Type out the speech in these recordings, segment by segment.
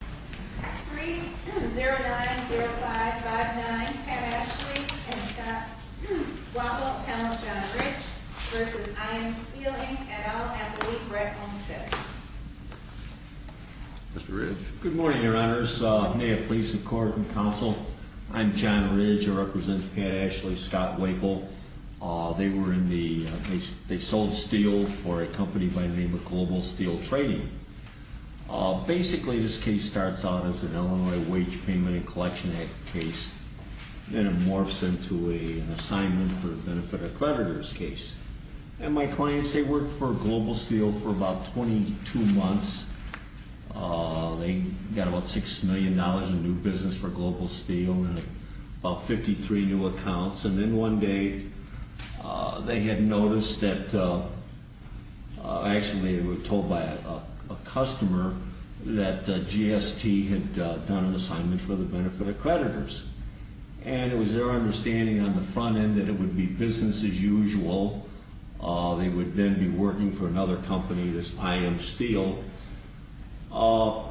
3-090559, Pat Ashley and Scott Wackel, Appellant John Ridge v. IM Steel, Inc. et al. at the Lee-Brett Homestead. Mr. Ridge. Good morning, Your Honors. May it please the Court and Counsel, I'm John Ridge. I represent Pat Ashley, Scott Wackel. They were in the, they sold steel for a company by the name of Global Steel Trading. Basically, this case starts out as an Illinois Wage Payment and Collection Act case, then it morphs into an Assignment for Benefit Accreditors case. And my clients, they worked for Global Steel for about 22 months. They got about $6 million in new business for Global Steel and about 53 new accounts. And then one day, they had noticed that, actually they were told by a customer that GST had done an Assignment for the Benefit Accreditors. And it was their understanding on the front end that it would be business as usual. They would then be working for another company, this IM Steel. But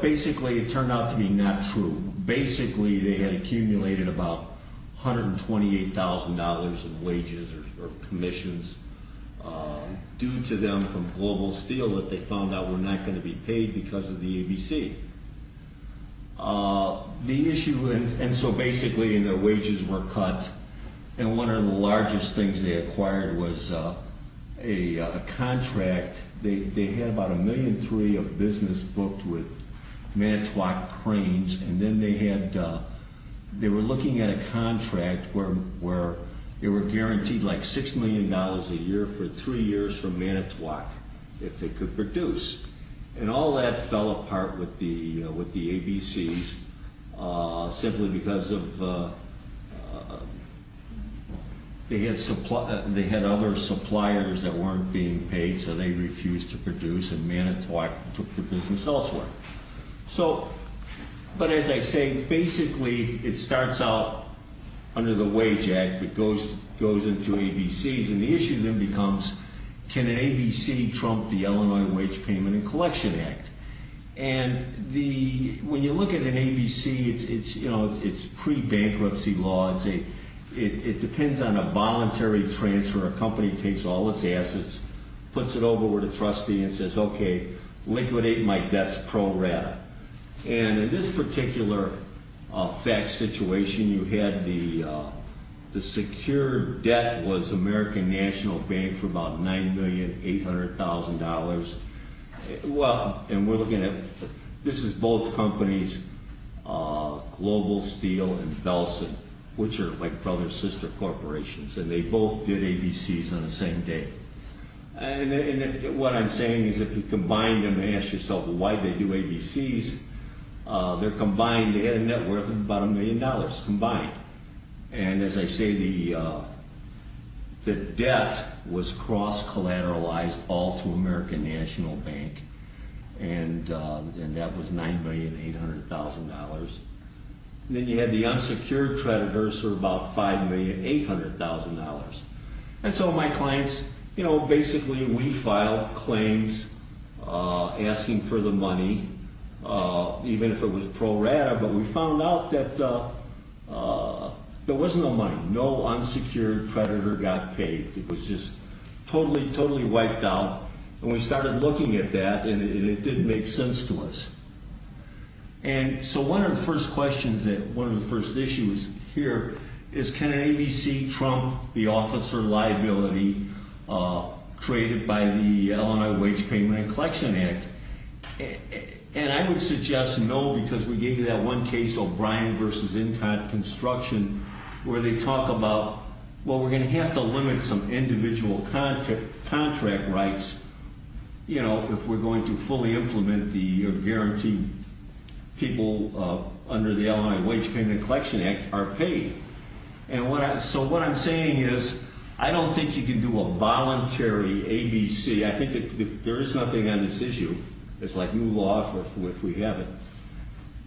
basically, it turned out to be not true. Basically, they had accumulated about $128,000 in wages or commissions due to them from Global Steel that they found out were not going to be paid because of the ABC. The issue, and so basically, and their wages were cut, and one of the largest things they acquired was a contract. They had about $1.3 million of Manitowoc cranes, and then they had, they were looking at a contract where they were guaranteed like $6 million a year for three years from Manitowoc if they could produce. And all that fell apart with the ABCs simply because of, they had other suppliers that So, but as I say, basically, it starts out under the Wage Act, but goes into ABCs, and the issue then becomes, can an ABC trump the Illinois Wage Payment and Collection Act? And the, when you look at an ABC, it's, you know, it's pre-bankruptcy law. It's a, it depends on a voluntary transfer. A company takes all its assets, puts it over with a And in this particular fact situation, you had the, the secured debt was American National Bank for about $9,800,000. Well, and we're looking at, this is both companies, Global Steel and Bellson, which are like brother-sister corporations, and they both did ABCs on the same day. And if, what I'm saying is if you combine them, ask yourself why they do ABCs, they're combined, they had a net worth of about $1 million combined. And as I say, the debt was cross-collateralized all to American National Bank, and that was $9,800,000. And then you had the unsecured creditors for about $5,800,000. And so my clients, you know, basically we filed claims asking for the money, even if it was pro-rata, but we found out that there was no money. No unsecured creditor got paid. It was just totally, totally wiped out. And we started looking at that and it didn't make sense to us. And so one of the first questions that, one of the first issues here is can ABC trump the officer liability created by the Illinois Wage Payment and Collection Act? And I would suggest no, because we gave you that one case, O'Brien v. Incon Construction, where they talk about, well, we're going to have to limit some individual contract rights, you know, if we're going to fully implement the guarantee people under the Illinois Wage Payment and Collection Act are paid. And so what I'm saying is I don't think you can do a voluntary ABC. I think there is nothing on this issue. It's like new law if we have it.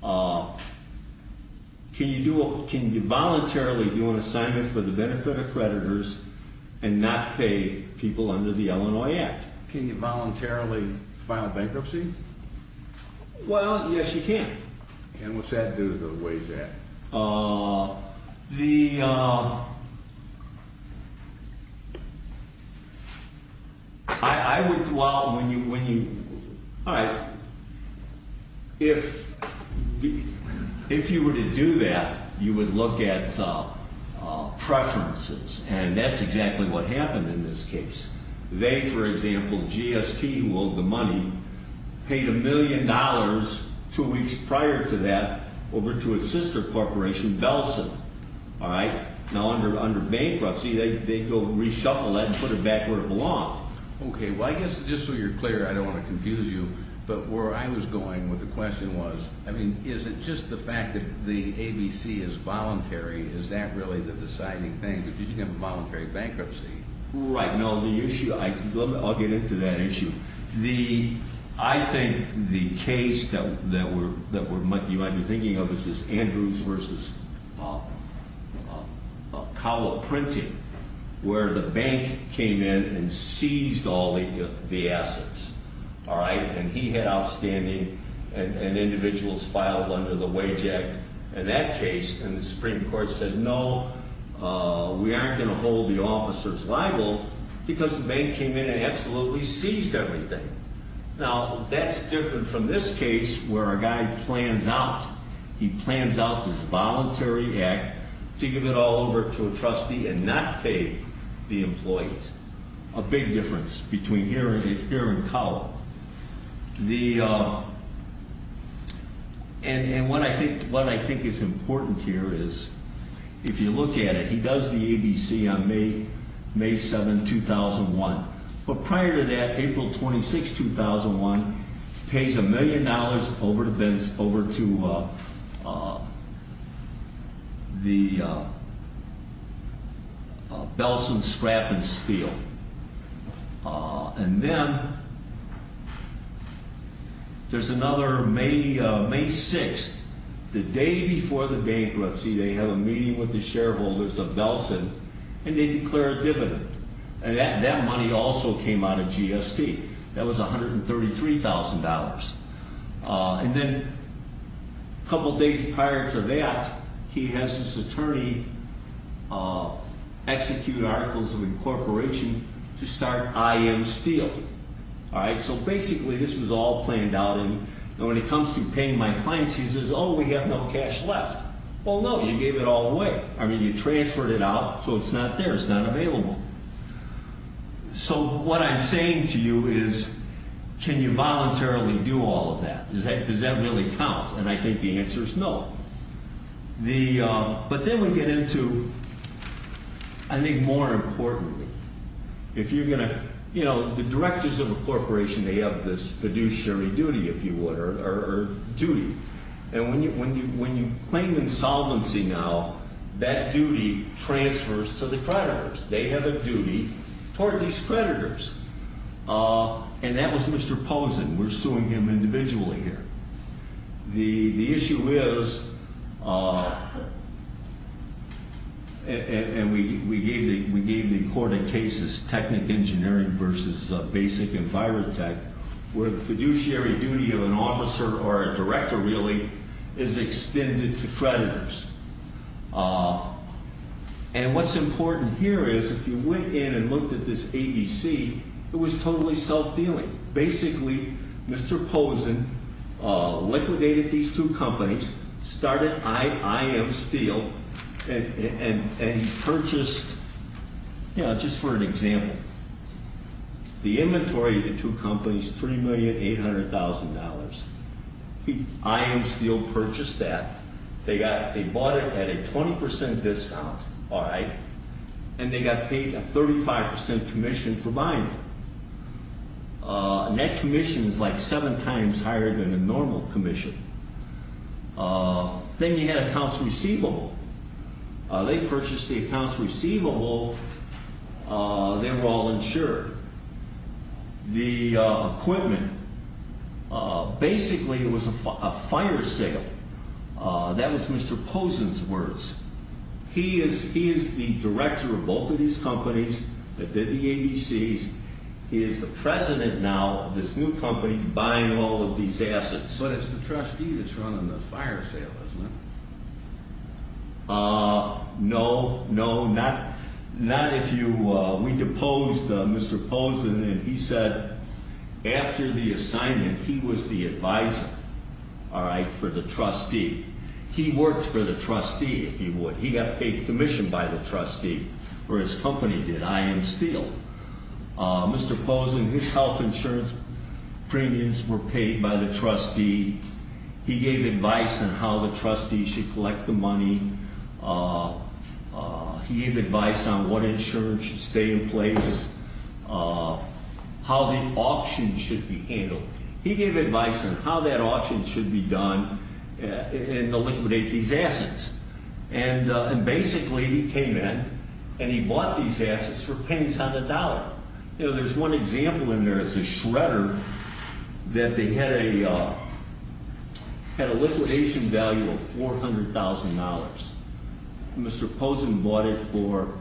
Can you do, can you voluntarily do an ABC benefit accreditors and not pay people under the Illinois Act? Can you voluntarily file bankruptcy? Well, yes, you can. And what's that do to the Wage Act? The, I would, well, when you, all right, if you were to do that, you would look at preferences. And that's exactly what happened in this case. They, for example, GST, who owed the money, paid a million dollars two weeks prior to that over to a sister corporation, Bellson. All right? Now, under bankruptcy, they go reshuffle that and put it back where it belonged. Okay. Well, I guess just so you're clear, I don't want to confuse you, but where I was going with the question was, I mean, is it just the fact that the ABC is voluntary? Is that really the deciding thing? Because you can have a voluntary bankruptcy. Right. No, the issue, I'll get into that issue. The, I think the case that we're, that we're, you might be thinking of is this Andrews versus Cowell printing, where the bank seized all the assets. All right. And he had outstanding and individuals filed under the Wage Act. In that case, and the Supreme Court said, no, we aren't going to hold the officers liable because the bank came in and absolutely seized everything. Now, that's different from this case where a guy plans out. He plans out this voluntary act to give it all over to a trustee and not pay the employees. A big difference between here and, here and Cowell. The, and, and what I think, what I think is important here is if you look at it, he does the ABC on May, May 7, 2001. But prior to that, April 26, 2001, pays a million dollars over to, over to the Belson scrap and steal. And then there's another May, May 6, the day before the bankruptcy, they have a meeting with the shareholders of Belson and they declare a dividend. And that, that money also came out of GST. That was $133,000. And then a couple of days prior to that, he has his attorney execute articles of incorporation to start IM steal. All right. So basically this was all planned out. And when it comes to paying my clients, he says, oh, we have no cash left. Well, no, you gave it all away. I mean, you transferred it out, so it's not there. It's not available. So what I'm saying to you is, can you voluntarily do all of that? Does that, does that really count? And I think the answer is no. The, but then we get into, I think more importantly, if you're going to, you know, the directors of a corporation, they have this fiduciary duty, if you would, or duty. And when you, when you, when you claim insolvency now, that duty transfers to the creditors. They have a duty toward these creditors. And that was Mr. Posen. We're suing him individually here. The, the issue is, and we, we gave the, we gave the, the fiduciary duty of an officer or a director, really, is extended to creditors. And what's important here is, if you went in and looked at this ABC, it was totally self-dealing. Basically, Mr. Posen liquidated these two companies, started IM steal, and, and purchased, you know, just for an example, the inventory of the two companies, $3,800,000. IM steal purchased that. They got, they bought it at a 20% discount. All right. And they got paid a 35% commission for buying it. And that commission is like seven times higher than a normal commission. Then you had accounts receivable. They purchased the accounts receivable. They were all insured. The equipment, basically, it was a fire sale. That was Mr. Posen's words. He is, he is the director of both of these companies that did the ABCs. He is the president now of this new company buying all of these assets. But it's the trustee that's running the fire sale, isn't it? No, no, not, not if you, we deposed Mr. Posen and he said, after the assignment, he was the advisor, all right, for the trustee. He worked for the trustee, if you would. He got paid commission by the trustee for his company that IM steal. Mr. Posen, his health insurance premiums were paid by the trustee. He gave advice on how the trustee should collect the money. He gave advice on what insurance should stay in place, how the auction should be handled. He gave advice on how that auction should be done and to liquidate these assets. And basically, he came in and he bought these assets for pennies on the dollar. You know, there's one example in there. It's a shredder that they had a, had a liquidation value of $400,000. Mr. Posen bought it for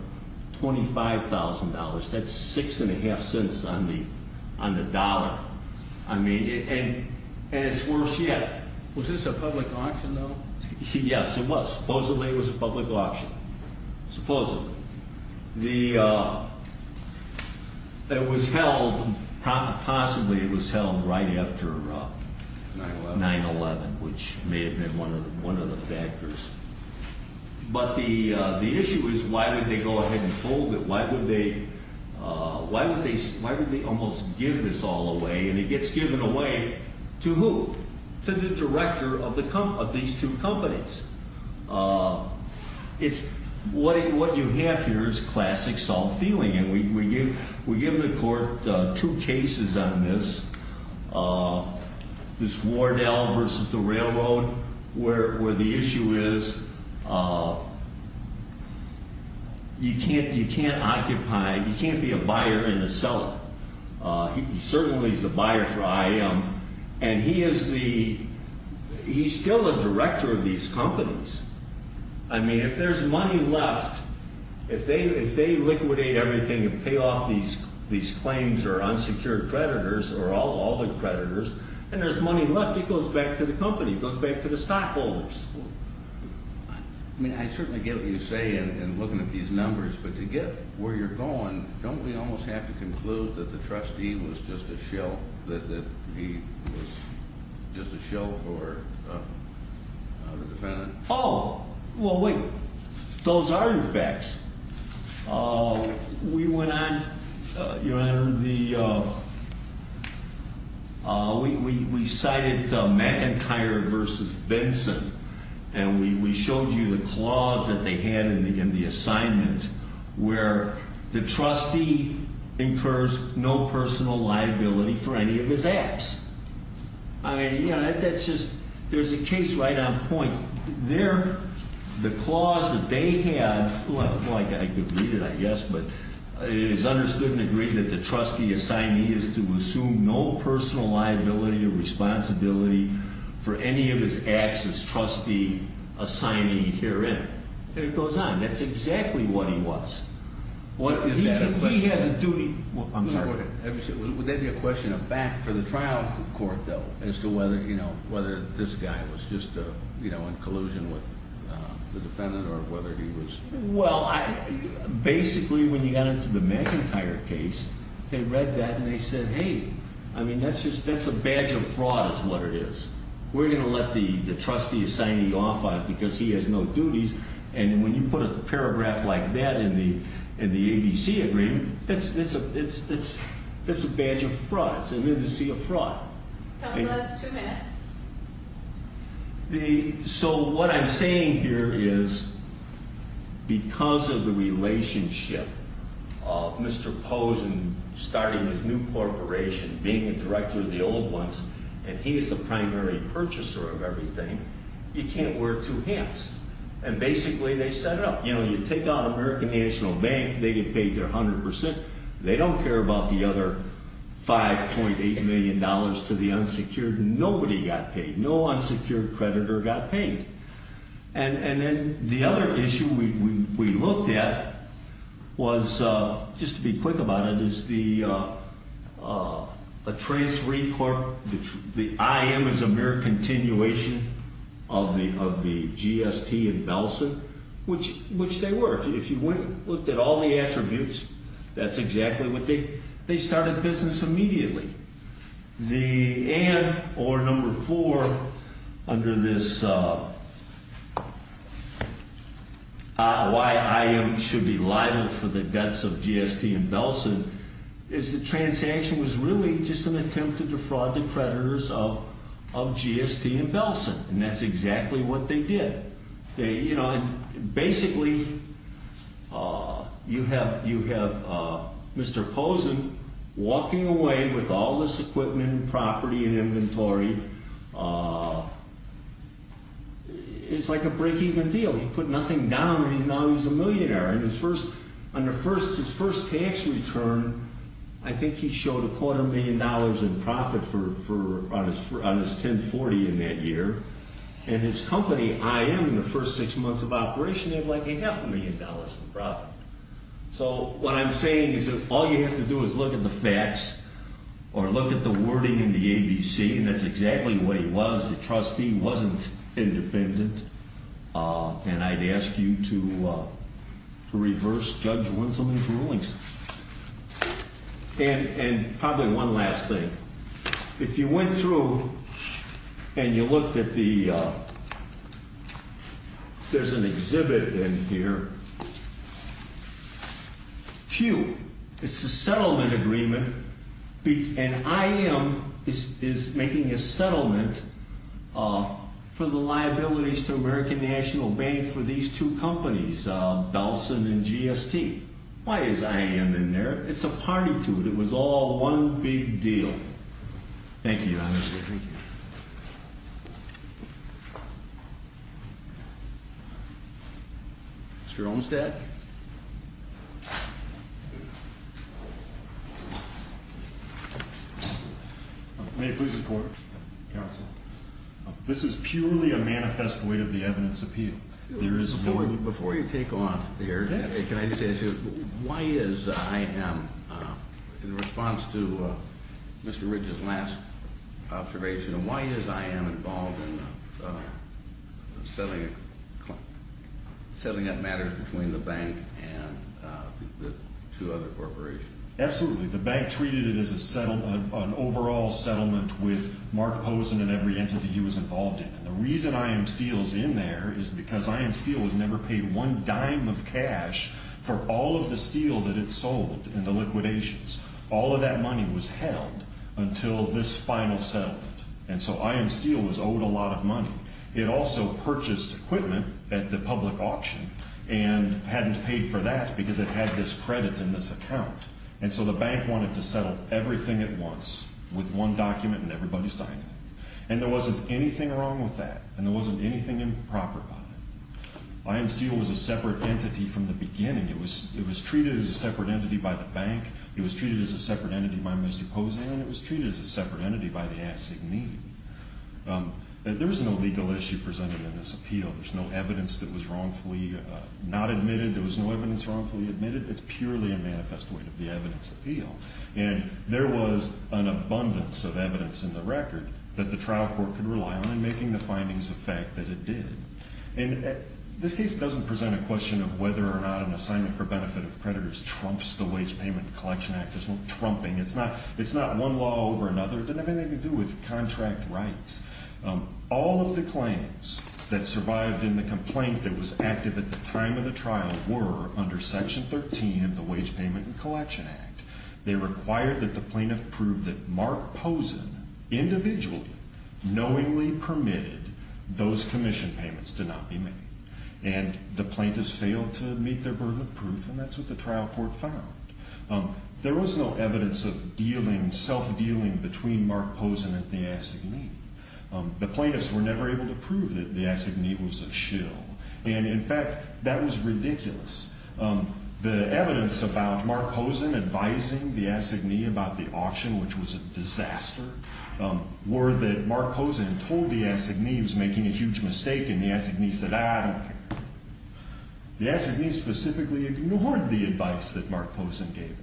$25,000. That's six and a half cents on the, on the dollar. I mean, and, and it's worse yet. Was this a public auction though? Yes, it was. Supposedly it was a public auction. Supposedly. The, it was held, possibly it was held right after 9-11, which may have been one of the, one of the factors. But the, and it gets given away to who? To the director of the, of these two companies. It's, what, what you have here is classic self-dealing. And we, we give, we give the court two cases on this. This Wardell versus the railroad where, where the issue is you can't, you can't occupy, you can't be a buyer and a seller. He certainly is the buyer for IAM. And he is the, he's still a director of these companies. I mean, if there's money left, if they, if they liquidate everything and pay off these, these claims or unsecured creditors or all, all the creditors and there's money left, it goes back to the company. It goes back to the stockholders. I mean, I certainly get what you say in, in looking at these numbers, but to get where you're going, don't we almost have to conclude that the trustee was just a shell, that, that he was just a shell for the defendant? Oh, well, wait. Those are your facts. We went on, Your Honor, the, we, we, we cited McIntyre versus Benson. And we, we showed you the clause that they had in the, in the assignment where the trustee incurs no personal liability for any of his acts. I mean, you just, there's a case right on point. There, the clause that they had, like, like I could read it, I guess, but it is understood and agreed that the trustee assignee is to assume no personal liability or responsibility for any of his acts as trustee assignee herein. And it goes on. That's exactly what he was. What, he, he has a duty. Is that a question? I'm sorry. Is it a question that this guy was just a, you know, in collusion with the defendant or whether he was? Well, I, basically when you got into the McIntyre case, they read that and they said, hey, I mean, that's just, that's a badge of fraud is what it is. We're going to let the, the trustee assignee off on it because he has no duties. And when you put a paragraph like that in the, in the ABC agreement, that's, it's a, it's, it's, it's a badge of fraud. It's an indice of fraud. Counsel has two minutes. The, so what I'm saying here is because of the relationship of Mr. Posen starting his new corporation, being a director of the old ones, and he is the primary purchaser of everything, you can't wear two hats. And basically they set it up. You know, you take down American National Bank, they get paid their hundred percent. They don't care about the other $5.8 million to the unsecured. Nobody got paid, no unsecured creditor got paid. And, and then the other issue we, we, we looked at was, just to be quick about it, is the, a trace report, the IM is a mere continuation of the, of the GST and Belson, which, which they were. If you went and looked at all the attributes, that's exactly what they, they started business immediately. The, and, or number four, under this, why IM should be liable for the debts of GST and Belson, is the transaction was really just an attempt to defraud the creditors of, of GST and Belson. And that's exactly what they did. They, you basically, you have, you have Mr. Posen walking away with all this equipment and property and inventory. It's like a break-even deal. He put nothing down and now he's a millionaire. And his first, on the first, his first tax return, I think he showed a quarter million dollars in profit for, for, on his, on his 1040 in that year. And his company, IM, in the first six months of operation, they have like a half a million dollars in profit. So what I'm saying is that all you have to do is look at the facts or look at the wording in the ABC, and that's exactly what he was. The trustee wasn't independent. And I'd ask you to, to reverse Judge Winslow's rulings. And, and probably one last thing. If you went through and you looked at the, there's an exhibit in here. Phew. It's a settlement agreement. And IM is, is making a settlement for the liabilities to American National Bank for these two companies, Belson and GST. Why is IM in there? It's a party to it. It was all one big deal. Thank you. Mr. Olmstead? May I please report, counsel? This is purely a manifest void of the evidence appeal. Before you take off there, can I just ask you, why is IM, in response to Mr. Ridge's last observation, why is IM involved in settling, settling up matters between the bank and the two other corporations? Absolutely. The bank treated it as a settlement, an overall settlement with Mark Posen and every entity he was involved in. And the reason IM Steel is in there is because IM Steel was never paid one dime of cash for all of the steel that it sold in the liquidations. All of that money was held until this final settlement. And so IM Steel was owed a lot of money. It also purchased equipment at the public auction and hadn't paid for that because it had this credit in this account. And so the bank wanted to settle everything at once with one document and everybody signing it. And there wasn't anything wrong with that. And there wasn't anything improper about it. IM Steel was a separate entity from the beginning. It was treated as a separate entity by the bank. It was treated as a separate entity by Mr. Posen. And it was treated as a separate entity by the assignee. There was no legal issue presented in this appeal. There was no evidence that was wrongfully not admitted. There was no evidence wrongfully admitted. It's purely a manifest void of the evidence in this appeal. And there was an abundance of evidence in the record that the trial court could rely on in making the findings of fact that it did. And this case doesn't present a question of whether or not an assignment for benefit of creditors trumps the Wage Payment and Collection Act. There's no trumping. It's not one law over another. It doesn't have anything to do with contract rights. All of the claims that survived in the complaint that was active at the time of the trial were under Section 13 of the Wage Payment and Collection Act. They required that the plaintiff prove that Mark Posen individually knowingly permitted those commission payments to not be made. And the plaintiffs failed to meet their burden of proof, and that's what the trial court found. There was no evidence of dealing, self-dealing between Mark Posen and the assignee. The plaintiffs were never able to prove that the assignee was a shill. And, in fact, that was ridiculous. The evidence about Mark Posen advising the assignee about the auction, which was a disaster, were that Mark Posen told the assignee he was making a huge mistake, and the assignee said, I don't care. The assignee specifically ignored the advice that Mark Posen gave him.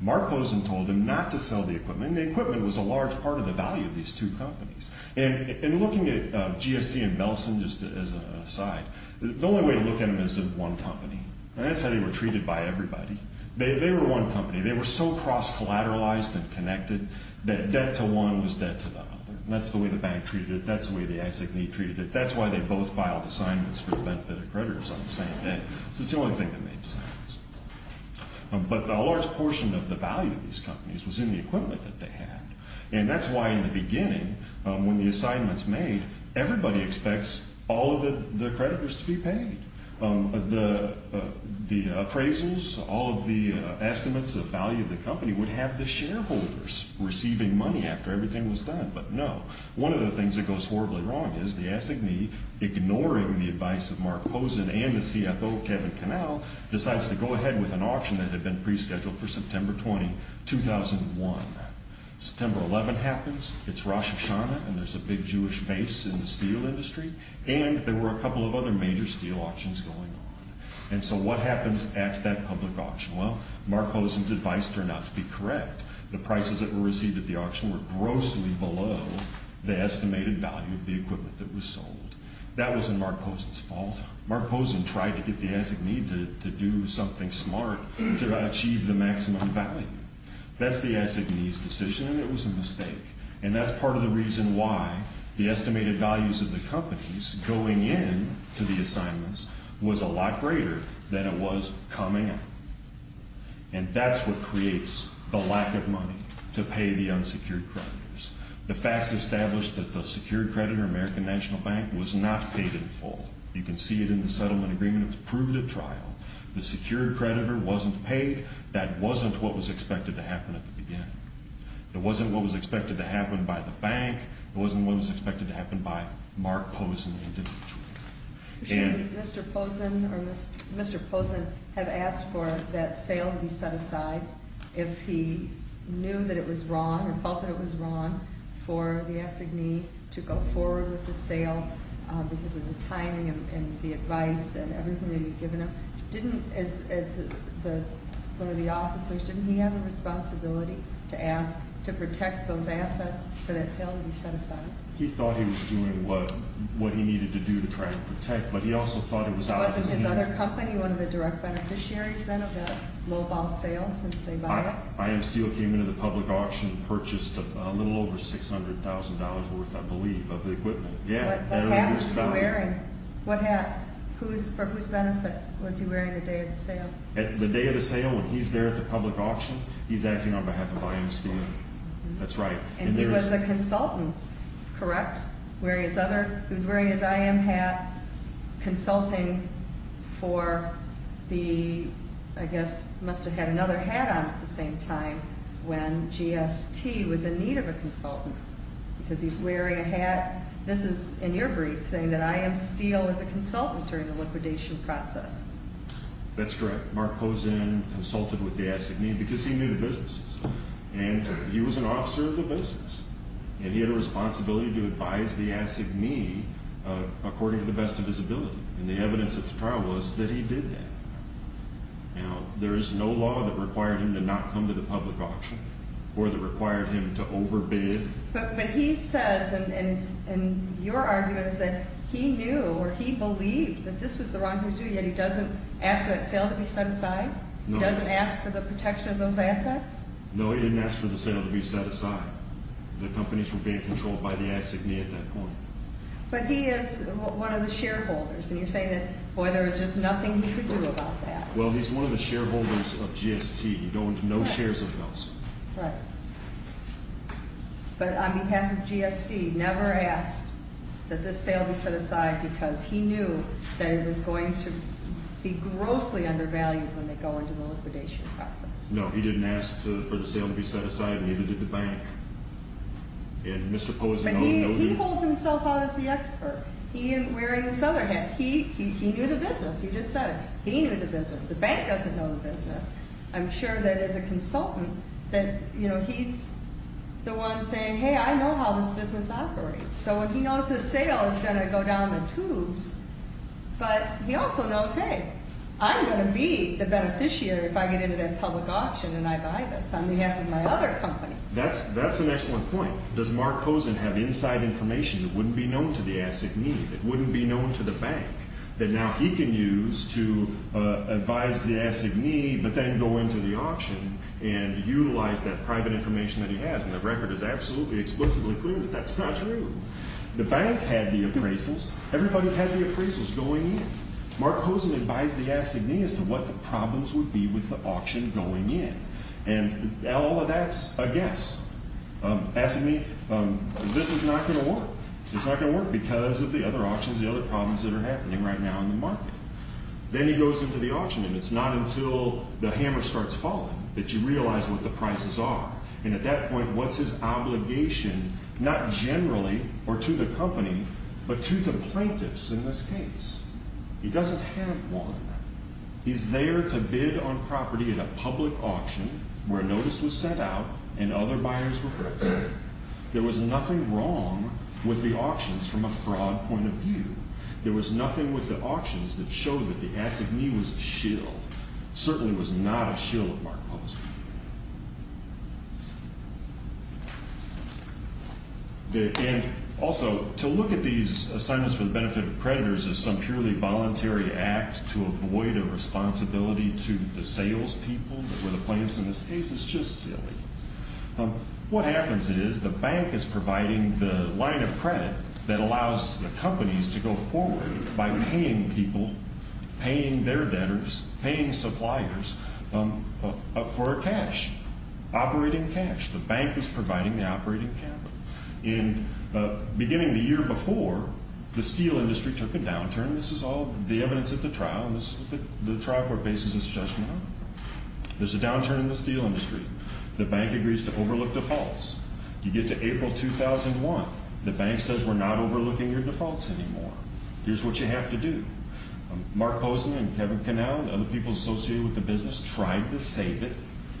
Mark Posen told him not to sell the equipment, and the equipment was a large part of the value of these two companies. And looking at GSD and Belsen, just as an aside, the only way to look at them is as one company. And that's how they were treated by everybody. They were one company. They were so cross-collateralized and connected that debt to one was debt to the other. And that's the way the bank treated it. That's the way the assignee treated it. That's why they both filed assignments for the benefit of creditors on the same day. It's the only thing that made sense. But a large portion of the value of these companies was in the equipment that they had. And that's why in the beginning, when the assignment's made, everybody expects all of the creditors to be paid. The appraisals, all of the estimates of value of the company would have the shareholders receiving money after everything was done. But no. One of the things that goes horribly wrong is the assignee, ignoring the advice of Mark Posen and the CFO, Kevin Connell, decides to go ahead with an auction that had been pre-scheduled for September 20, 2001. September 11 happens. It's Rosh Hashanah, and there's a big Jewish base in the steel industry. And there were a couple of other major steel auctions going on. And so what happens at that public auction? Well, Mark Posen's advice turned out to be correct. The prices that were received at the auction were grossly below the estimated value of the equipment that was sold. That wasn't Mark Posen's fault. Mark Posen tried to get the assignee to do something smart to achieve the maximum value. That's the assignee's decision, and it was a mistake. And that's part of the reason why the estimated values of the companies going in to the assignments was a lot greater than it was coming in. And that's what creates the lack of money to pay the unsecured creditors. The facts establish that the secured creditor, American National Bank, was not paid in full. You can see it in the settlement agreement. It was proved at trial. The secured creditor wasn't paid. That wasn't what was expected to happen at the beginning. It wasn't what was expected to happen by the bank. It wasn't what was expected to happen by Mark Posen individually. Can Mr. Posen or Mr. Posen have asked for that sale to be set aside if he knew that it was wrong or felt that it was wrong for the assignee to go forward with the sale because of the timing and the advice and everything that he'd given him? Didn't, as one of the officers, didn't he have a responsibility to ask to protect those assets for that sale to be set aside? He thought he was doing what he needed to do to try and protect, but he also thought it was out of his hands. Wasn't his other company one of the direct beneficiaries then of that lowball sale since they bought it? Item Steel came into the public auction and purchased a little over $600,000 worth, I believe, of the equipment. What hat was he wearing? What hat? For whose benefit was he wearing the day of the sale? The day of the sale, when he's there at the public auction, he's acting on behalf of Item Steel. That's right. And he was a consultant, correct? He was wearing his IM hat, consulting for the, I guess, must have had another hat on at the same time when GST was in need of a consultant because he's in your brief saying that I am Steel as a consultant during the liquidation process. That's correct. Mark Pozen consulted with the Assignee because he knew the businesses. And he was an officer of the business, and he had a responsibility to advise the Assignee according to the best of his ability. And the evidence of the trial was that he did that. Now, there is no law that required him to not come to the public auction or that required him to overbid. But he says, and your argument is that he knew or he believed that this was the wrong thing to do, yet he doesn't ask for that sale to be set aside? No. He doesn't ask for the protection of those assets? No, he didn't ask for the sale to be set aside. The companies were being controlled by the Assignee at that point. But he is one of the shareholders, and you're saying that, boy, there was just nothing he could do about that. Well, he's one of the shareholders of GST. You go into no shares of those. Right. But on behalf of GST, he never asked that this sale be set aside because he knew that it was going to be grossly undervalued when they go into the liquidation process. No, he didn't ask for the sale to be set aside, neither did the bank. And Mr. Pozen already knew. But he holds himself out as the expert. He isn't wearing his other hat. He knew the business. The bank doesn't know the business. I'm sure that as a consultant that he's the one saying, hey, I know how this business operates. So if he knows this sale is going to go down the tubes, but he also knows, hey, I'm going to be the beneficiary if I get into that public auction and I buy this on behalf of my other company. That's an excellent point. Does Mark Pozen have inside information that wouldn't be known to the bank that now he can use to advise the assignee, but then go into the auction and utilize that private information that he has? And the record is absolutely explicitly clear that that's not true. The bank had the appraisals. Everybody had the appraisals going in. Mark Pozen advised the assignee as to what the problems would be with the auction going in. And all of that's a guess. Assignee, this is not going to work. It's not going to work because of the other auctions, the other problems that are happening right now in the market. Then he goes into the auction, and it's not until the hammer starts falling that you realize what the prices are. And at that point, what's his obligation not generally or to the company, but to the plaintiffs in this case? He doesn't have one. He's there to bid on property at a public auction where a notice was sent out and other with the auctions from a fraud point of view. There was nothing with the auctions that showed that the assignee was a shill. Certainly was not a shill at Mark Pozen. And also, to look at these assignments for the benefit of creditors as some purely voluntary act to avoid a responsibility to the salespeople that were the plaintiffs in this case is just providing the line of credit that allows the companies to go forward by paying people, paying their debtors, paying suppliers for cash, operating cash. The bank is providing the operating capital. And beginning the year before, the steel industry took a downturn. This is all the evidence at the trial, and this is the trial court basis it's judgment on. There's a downturn in the steel industry. The bank agrees to overlook defaults. You get to April 2001. The bank says we're not overlooking your defaults anymore. Here's what you have to do. Mark Pozen and Kevin Connell and other people associated with the business tried to save it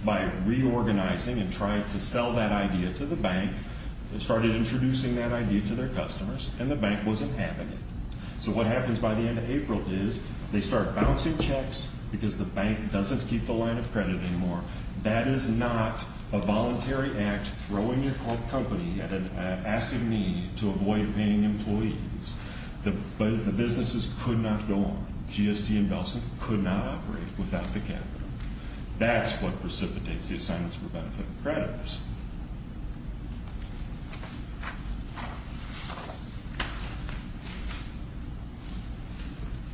by reorganizing and trying to sell that idea to the bank. They started introducing that idea to their customers, and the bank wasn't having it. So what happens by the end of April is they start bouncing checks because the bank doesn't keep the line of credit anymore. That is not a voluntary act throwing your company at an asking me to avoid paying employees. The businesses could not go on. GST and Belson could not operate without the capital. That's what precipitates the assignments for benefit creditors.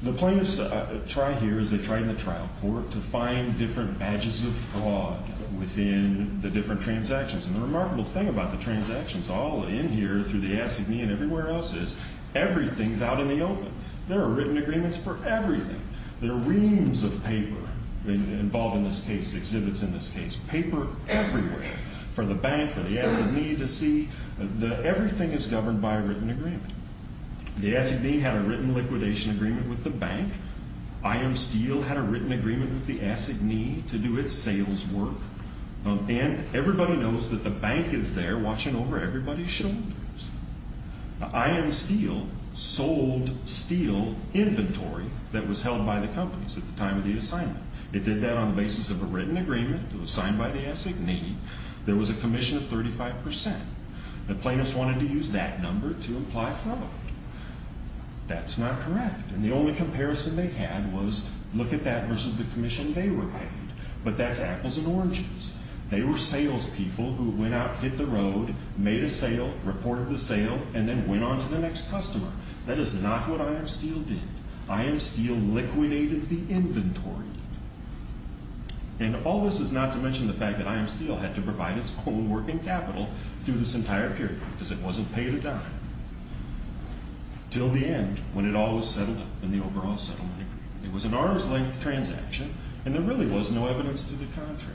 The plaintiffs try here, as they tried in the trial court, to find different badges of fraud within the different transactions. And the remarkable thing about the transactions all in here through the ACME and everywhere else is everything's out in the open. There are written agreements for everything. There are reams of paper involved in this case, exhibits in this case, paper everywhere for the bank, for the ACME to see. Everything is governed by a written agreement. The ACME had a written liquidation agreement with the bank. IM Steel had a written agreement with the ACME to do its sales work. And everybody knows that the bank is there watching over everybody's shoulders. IM Steel sold steel inventory that was held by the companies at the time of the assignment. It did that on the basis of a written agreement that was signed by the ACME. There was a commission of 35%. The plaintiffs wanted to use that number to imply fraud. That's not correct. And the only comparison they had was, look at that versus the commission they were paid. But that's apples and oranges. They were salespeople who went out, hit the road, made a sale, reported the sale, and then went on to the next customer. That is not what IM Steel did. IM Steel liquidated the inventory. And all this is not to mention the fact that IM Steel had to provide its own working capital through this entire period because it wasn't paid a dime. Till the end, when it all was settled in the overall settlement agreement, it was an arm's length transaction and there really was no evidence to the contrary.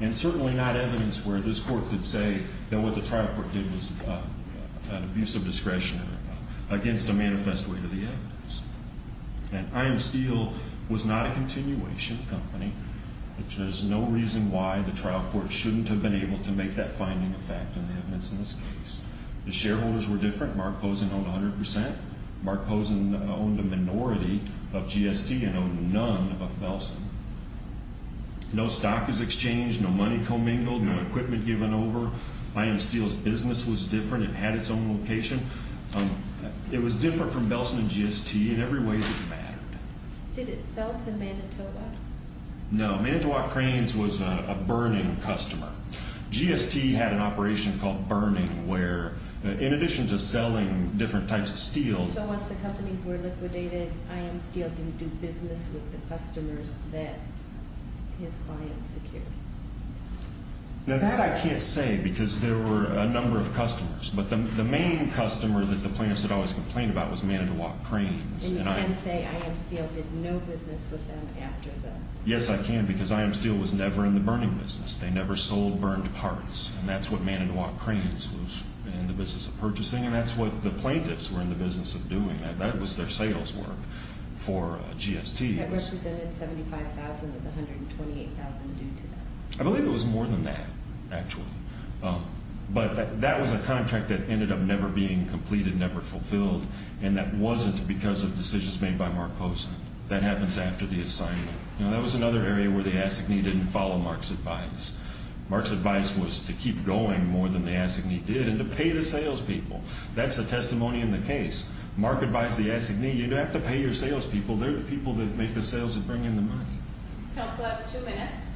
And certainly not evidence where this court could say that what the trial court did was an abuse of discretion against a manifest weight of the evidence. And IM Steel was not a continuation company. There's no reason why the trial court shouldn't have been able to make that finding of fact in the evidence in this case. The shareholders were different. Mark Pozen owned 100%. Mark Pozen owned a minority of GST and owned none of Belsen. No stock was exchanged, no money commingled, no equipment given over. IM Steel's business was different. It had its own location. It was different from Belsen and GST in every way that mattered. Did it sell to Manitoba? No. Manitoba Cranes was a burning customer. GST had an operation called Burning where in addition to selling different types of steel... So once the companies were liquidated, IM Steel didn't do business with the customers that his clients secured? Now that I can't say because there were a number of customers. But the main customer that the plaintiffs had always complained about was Manitoba Cranes. And you can say IM Steel did no business with them after the... Yes, I can because IM Steel was never in the burning business. They never sold burned parts. And that's what Manitoba Cranes was in the business of purchasing. And that's what the plaintiffs were in the business of doing. That was their sales work for GST. That represented $75,000 of the $128,000 due to them. I believe it was more than that, actually. But that was a contract that ended up never being completed, never fulfilled. And that wasn't because of decisions made by Mark Posner. That happens after the assignment. Now that was another area where the ASSIGNEE didn't follow Mark's advice. Mark's advice was to keep going more than the ASSIGNEE did and to pay the salespeople. That's the testimony in the case. Mark advised the ASSIGNEE, you don't have to pay your salespeople. They're the people that make the sales and bring in the money. Counsel, that's two minutes.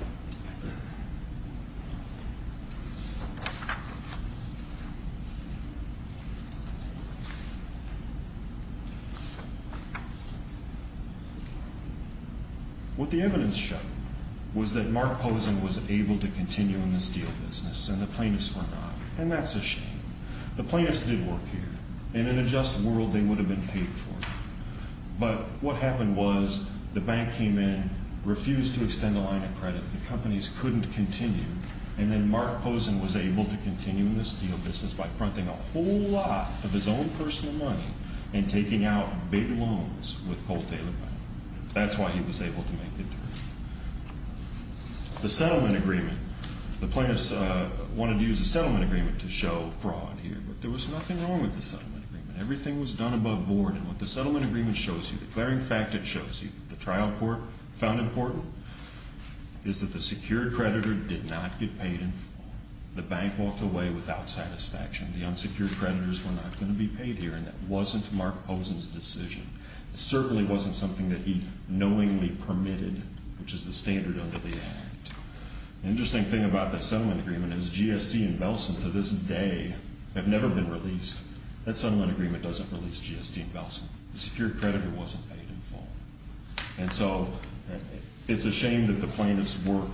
What the evidence showed was that Mark Posner was able to continue in the steel business and the plaintiffs were not. And that's a shame. The plaintiffs did work here. In a just world, they would have been paid for. But what happened was the bank came in, refused to extend the line of credit. The companies couldn't continue. And then Mark Posner was able to continue in the steel business by fronting a whole lot of his own personal money and taking out big loans with Cole Taylor Bank. That's why he was able to make it through. The settlement agreement. The plaintiffs wanted to use the settlement agreement to show fraud here. But there was nothing wrong with the settlement agreement. Everything was done above board. And what the settlement agreement shows you, the clearing fact it shows you, the trial court found important, is that the secured creditor did not get paid in full. The bank walked away without satisfaction. The unsecured creditors were not going to be paid here. And that wasn't Mark Posner's decision. It certainly wasn't something that he knowingly permitted, which is the standard under the Act. The interesting thing about the settlement agreement is GST and Belson to this day have never been released. That settlement agreement doesn't release GST and Belson. The secured creditor wasn't paid in full. And so it's a shame that the plaintiffs' work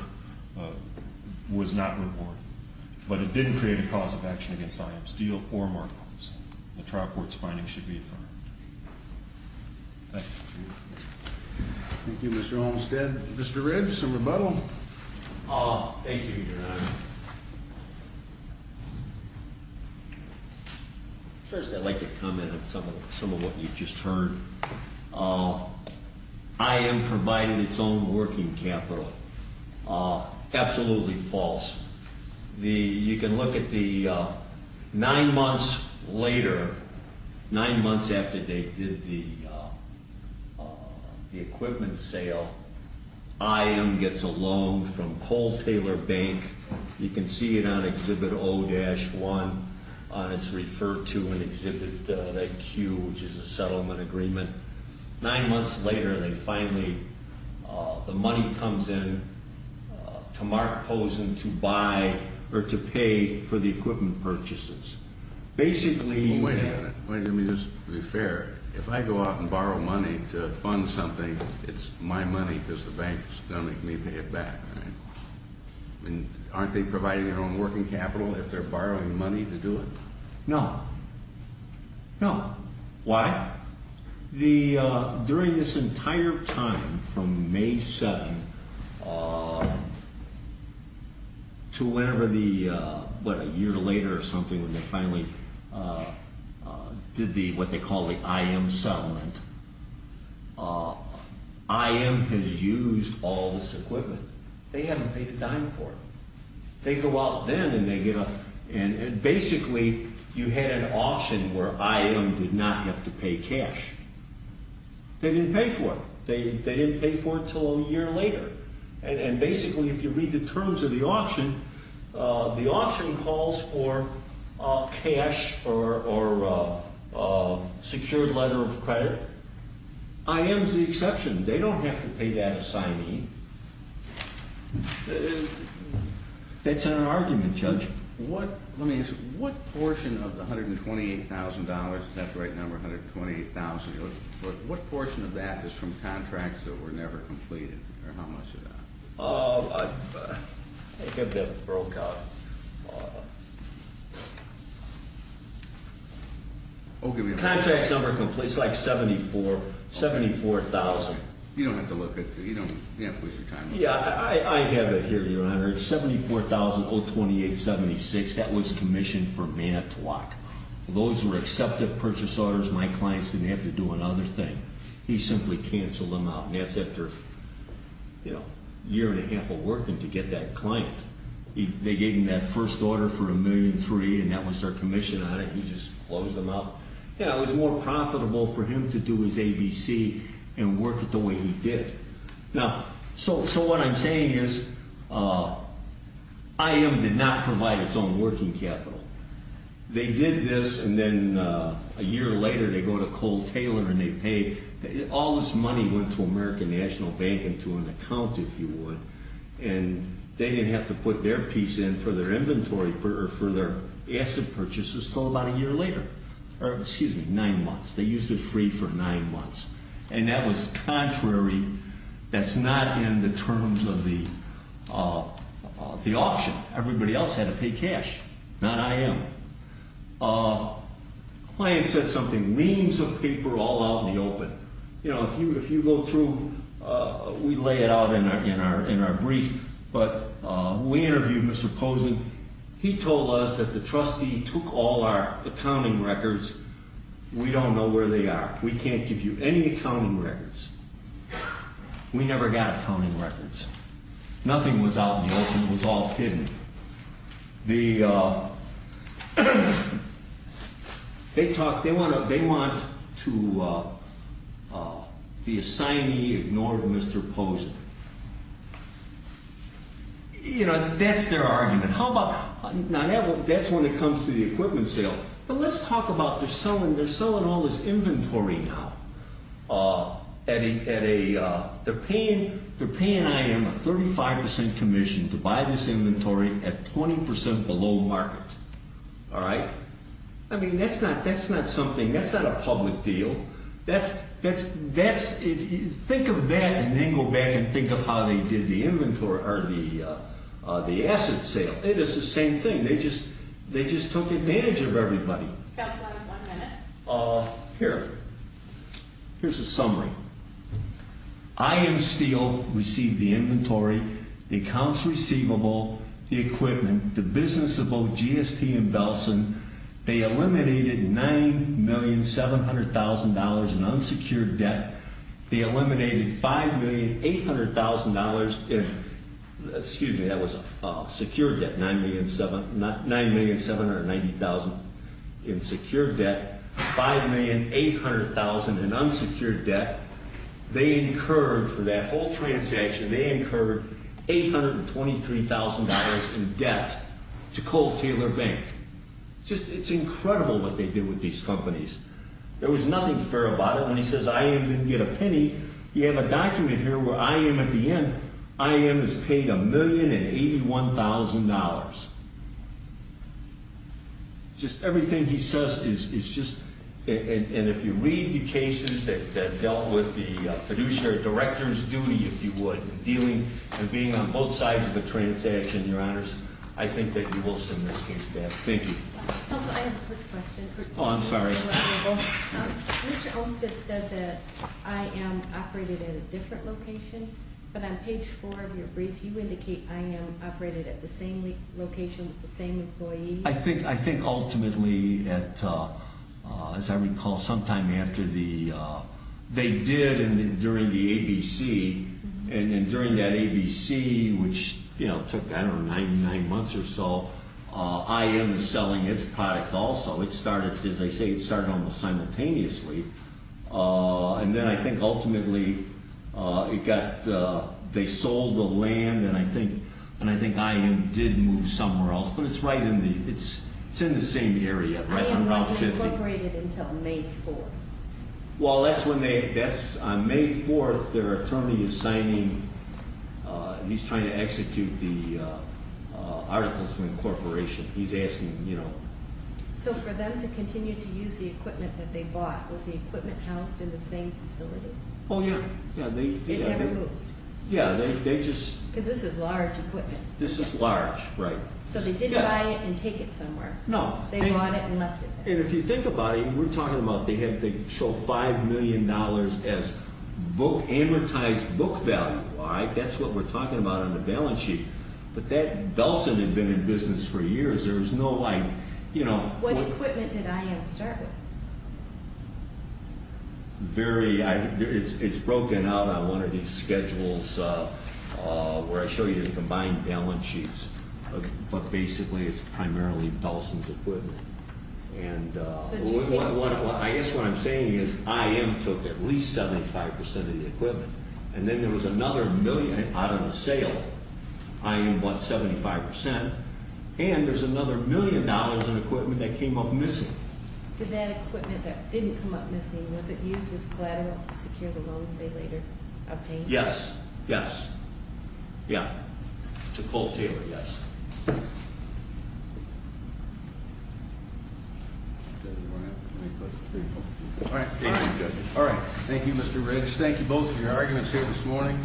was not rewarded. But it didn't create a cause of action against IM Steel or Mark Posner. The trial court's finding should be affirmed. Thank you. Thank you, Mr. Olmstead. Mr. Riggs, some rebuttal? Thank you, Your Honor. First, I'd like to comment on some of what you just heard. IM provided its own working capital. Absolutely false. You can look at the nine months later, nine months after they did the equipment sale, IM gets a loan from Cole Taylor Bank. You can see it on Exhibit 0-1. It's referred to in Exhibit Q, which is a settlement agreement. Nine months later, they finally, the money comes in to Mark Posner to buy or to pay for the equipment purchases. Basically Wait a minute. Let me just be fair. If I go out and borrow money to fund something, it's my money because the bank's going to make me pay it back. Aren't they providing their own working capital if they're borrowing money to do it? No. No. Why? The, during this entire time from May 7 to whenever the, what, a year later or something when they finally did the, what they call the IM settlement, IM has used all this equipment. They haven't paid a dime for it. They go out then and they get a, and basically you had an auction where IM did not have to pay cash. They didn't pay for it. They didn't pay for it until a year later. And basically if you read the terms of the auction, the auction calls for cash or a secured letter of credit. IM's the exception. They don't have to pay that assignee. That's an argument, Judge. What, let me ask you, what portion of the $128,000, is that the right number, $128,000? What portion of that is from contracts that were never completed or how much of that? I think I broke out. Contracts never completed, it's like $74,000. You don't have to look at, you don't, you don't have to waste your time. Yeah, I have it here, Your Honor. It's $74,028.76. That was commissioned from Manitowoc. Those were accepted purchase orders. My clients didn't have to do another thing. He simply canceled them out and that's after, you know, a year and a half of working to get that client. They gave him that first order for $1.3 million and that was their commission on it. He just closed them out. Yeah, it was more profitable for him to do his ABC and work it the way he did. Now, so what I'm saying is IM did not provide its own working capital. They did this and then a year later they go to Cole Taylor and they pay, all this money went to American National Bank and to an account, if you would, and they didn't have to put their piece in for their inventory, for their asset purchases until about a year later, or excuse me, nine months. They used it free for nine months. And that was contrary, that's not in the terms of the auction. Everybody else had to pay cash, not IM. Client said something, reams of paper all out in the open. You know, if you go through, we lay it out in our brief, but we interviewed Mr. Posen. He told us that the trustee took all our accounting records. We don't know where they are. We can't give you any accounting records. We never got accounting records. Nothing was out in the open. Nothing was all hidden. They want to, the assignee ignored Mr. Posen. You know, that's their argument. How about, now that's when it comes to the equipment sale. But let's talk about, they're selling all this inventory now. They're paying IM a 35% commission to buy this inventory at 20% below market, all right? I mean, that's not something, that's not a public deal. Think of that and then go back and think of how they did the inventory, or the asset sale. It is the same thing. They just took advantage of everybody. Here, here's a summary. IM Steel received the inventory, the accounts receivable, the equipment, the business of both GST and Belson. They eliminated $9,700,000 in unsecured debt. They eliminated $5,800,000 in, excuse me, that was secured debt. $9,790,000 in secured debt, $5,800,000 in unsecured debt. They incurred for that whole transaction, they incurred $823,000 in debt to Cole Taylor Bank. Just, it's incredible what they did with these companies. There was nothing fair about it. When he says IM didn't get a penny, you have a document here where IM at the end, IM is paid $1,081,000. Just everything he says is just, and if you read the cases that dealt with the fiduciary director's duty, if you would, dealing and being on both sides of the transaction, your honors, I think that you will send this case back. Thank you. I have a quick question. Oh, I'm sorry. Mr. Olmstead said that IM operated at a different location, but on page four of your brief, you indicate IM operated at the same location with the same employees. I think ultimately that, as I recall, sometime after the, they did during the ABC, and during that ABC, which took, I don't know, nine months or so, IM is selling its product also. It started, as I say, it started almost simultaneously. And then I think ultimately it got, they sold the land, and I think IM did move somewhere else. But it's right in the, it's in the same area, right on Route 50. IM wasn't incorporated until May 4th. Well, that's when they, that's on May 4th, their attorney is signing, he's trying to execute the articles of incorporation. He's asking, you know. So for them to continue to use the equipment that they bought, was the equipment housed in the same facility? Oh, yeah. It never moved. Yeah, they just. Because this is large equipment. This is large, right. So they didn't buy it and take it somewhere. No. They bought it and left it there. And if you think about it, we're talking about, they have, they show $5 million as book, amortized book value, all right? That's what we're talking about on the balance sheet. But that, Belson had been in business for years. There was no like, you know. What equipment did IM start with? Very, it's broken out on one of these schedules where I show you the combined balance sheets. But basically, it's primarily Belson's equipment. And I guess what I'm saying is IM took at least 75% of the equipment. And then there was another million out of the sale. IM bought 75%. And there's another million dollars in equipment that came up missing. Did that equipment that didn't come up missing, was it used as collateral to secure the loan, say, later, obtained? Yes. Yes. Yeah. To Cole Taylor, yes. All right. Thank you, judges. All right. Thank you, Mr. Ridge. Thank you both for your arguments here this morning.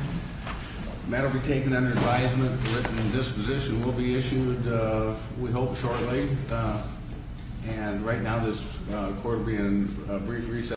The matter will be taken under advisement. The written disposition will be issued, we hope, shortly. And right now, this court will be in brief recess.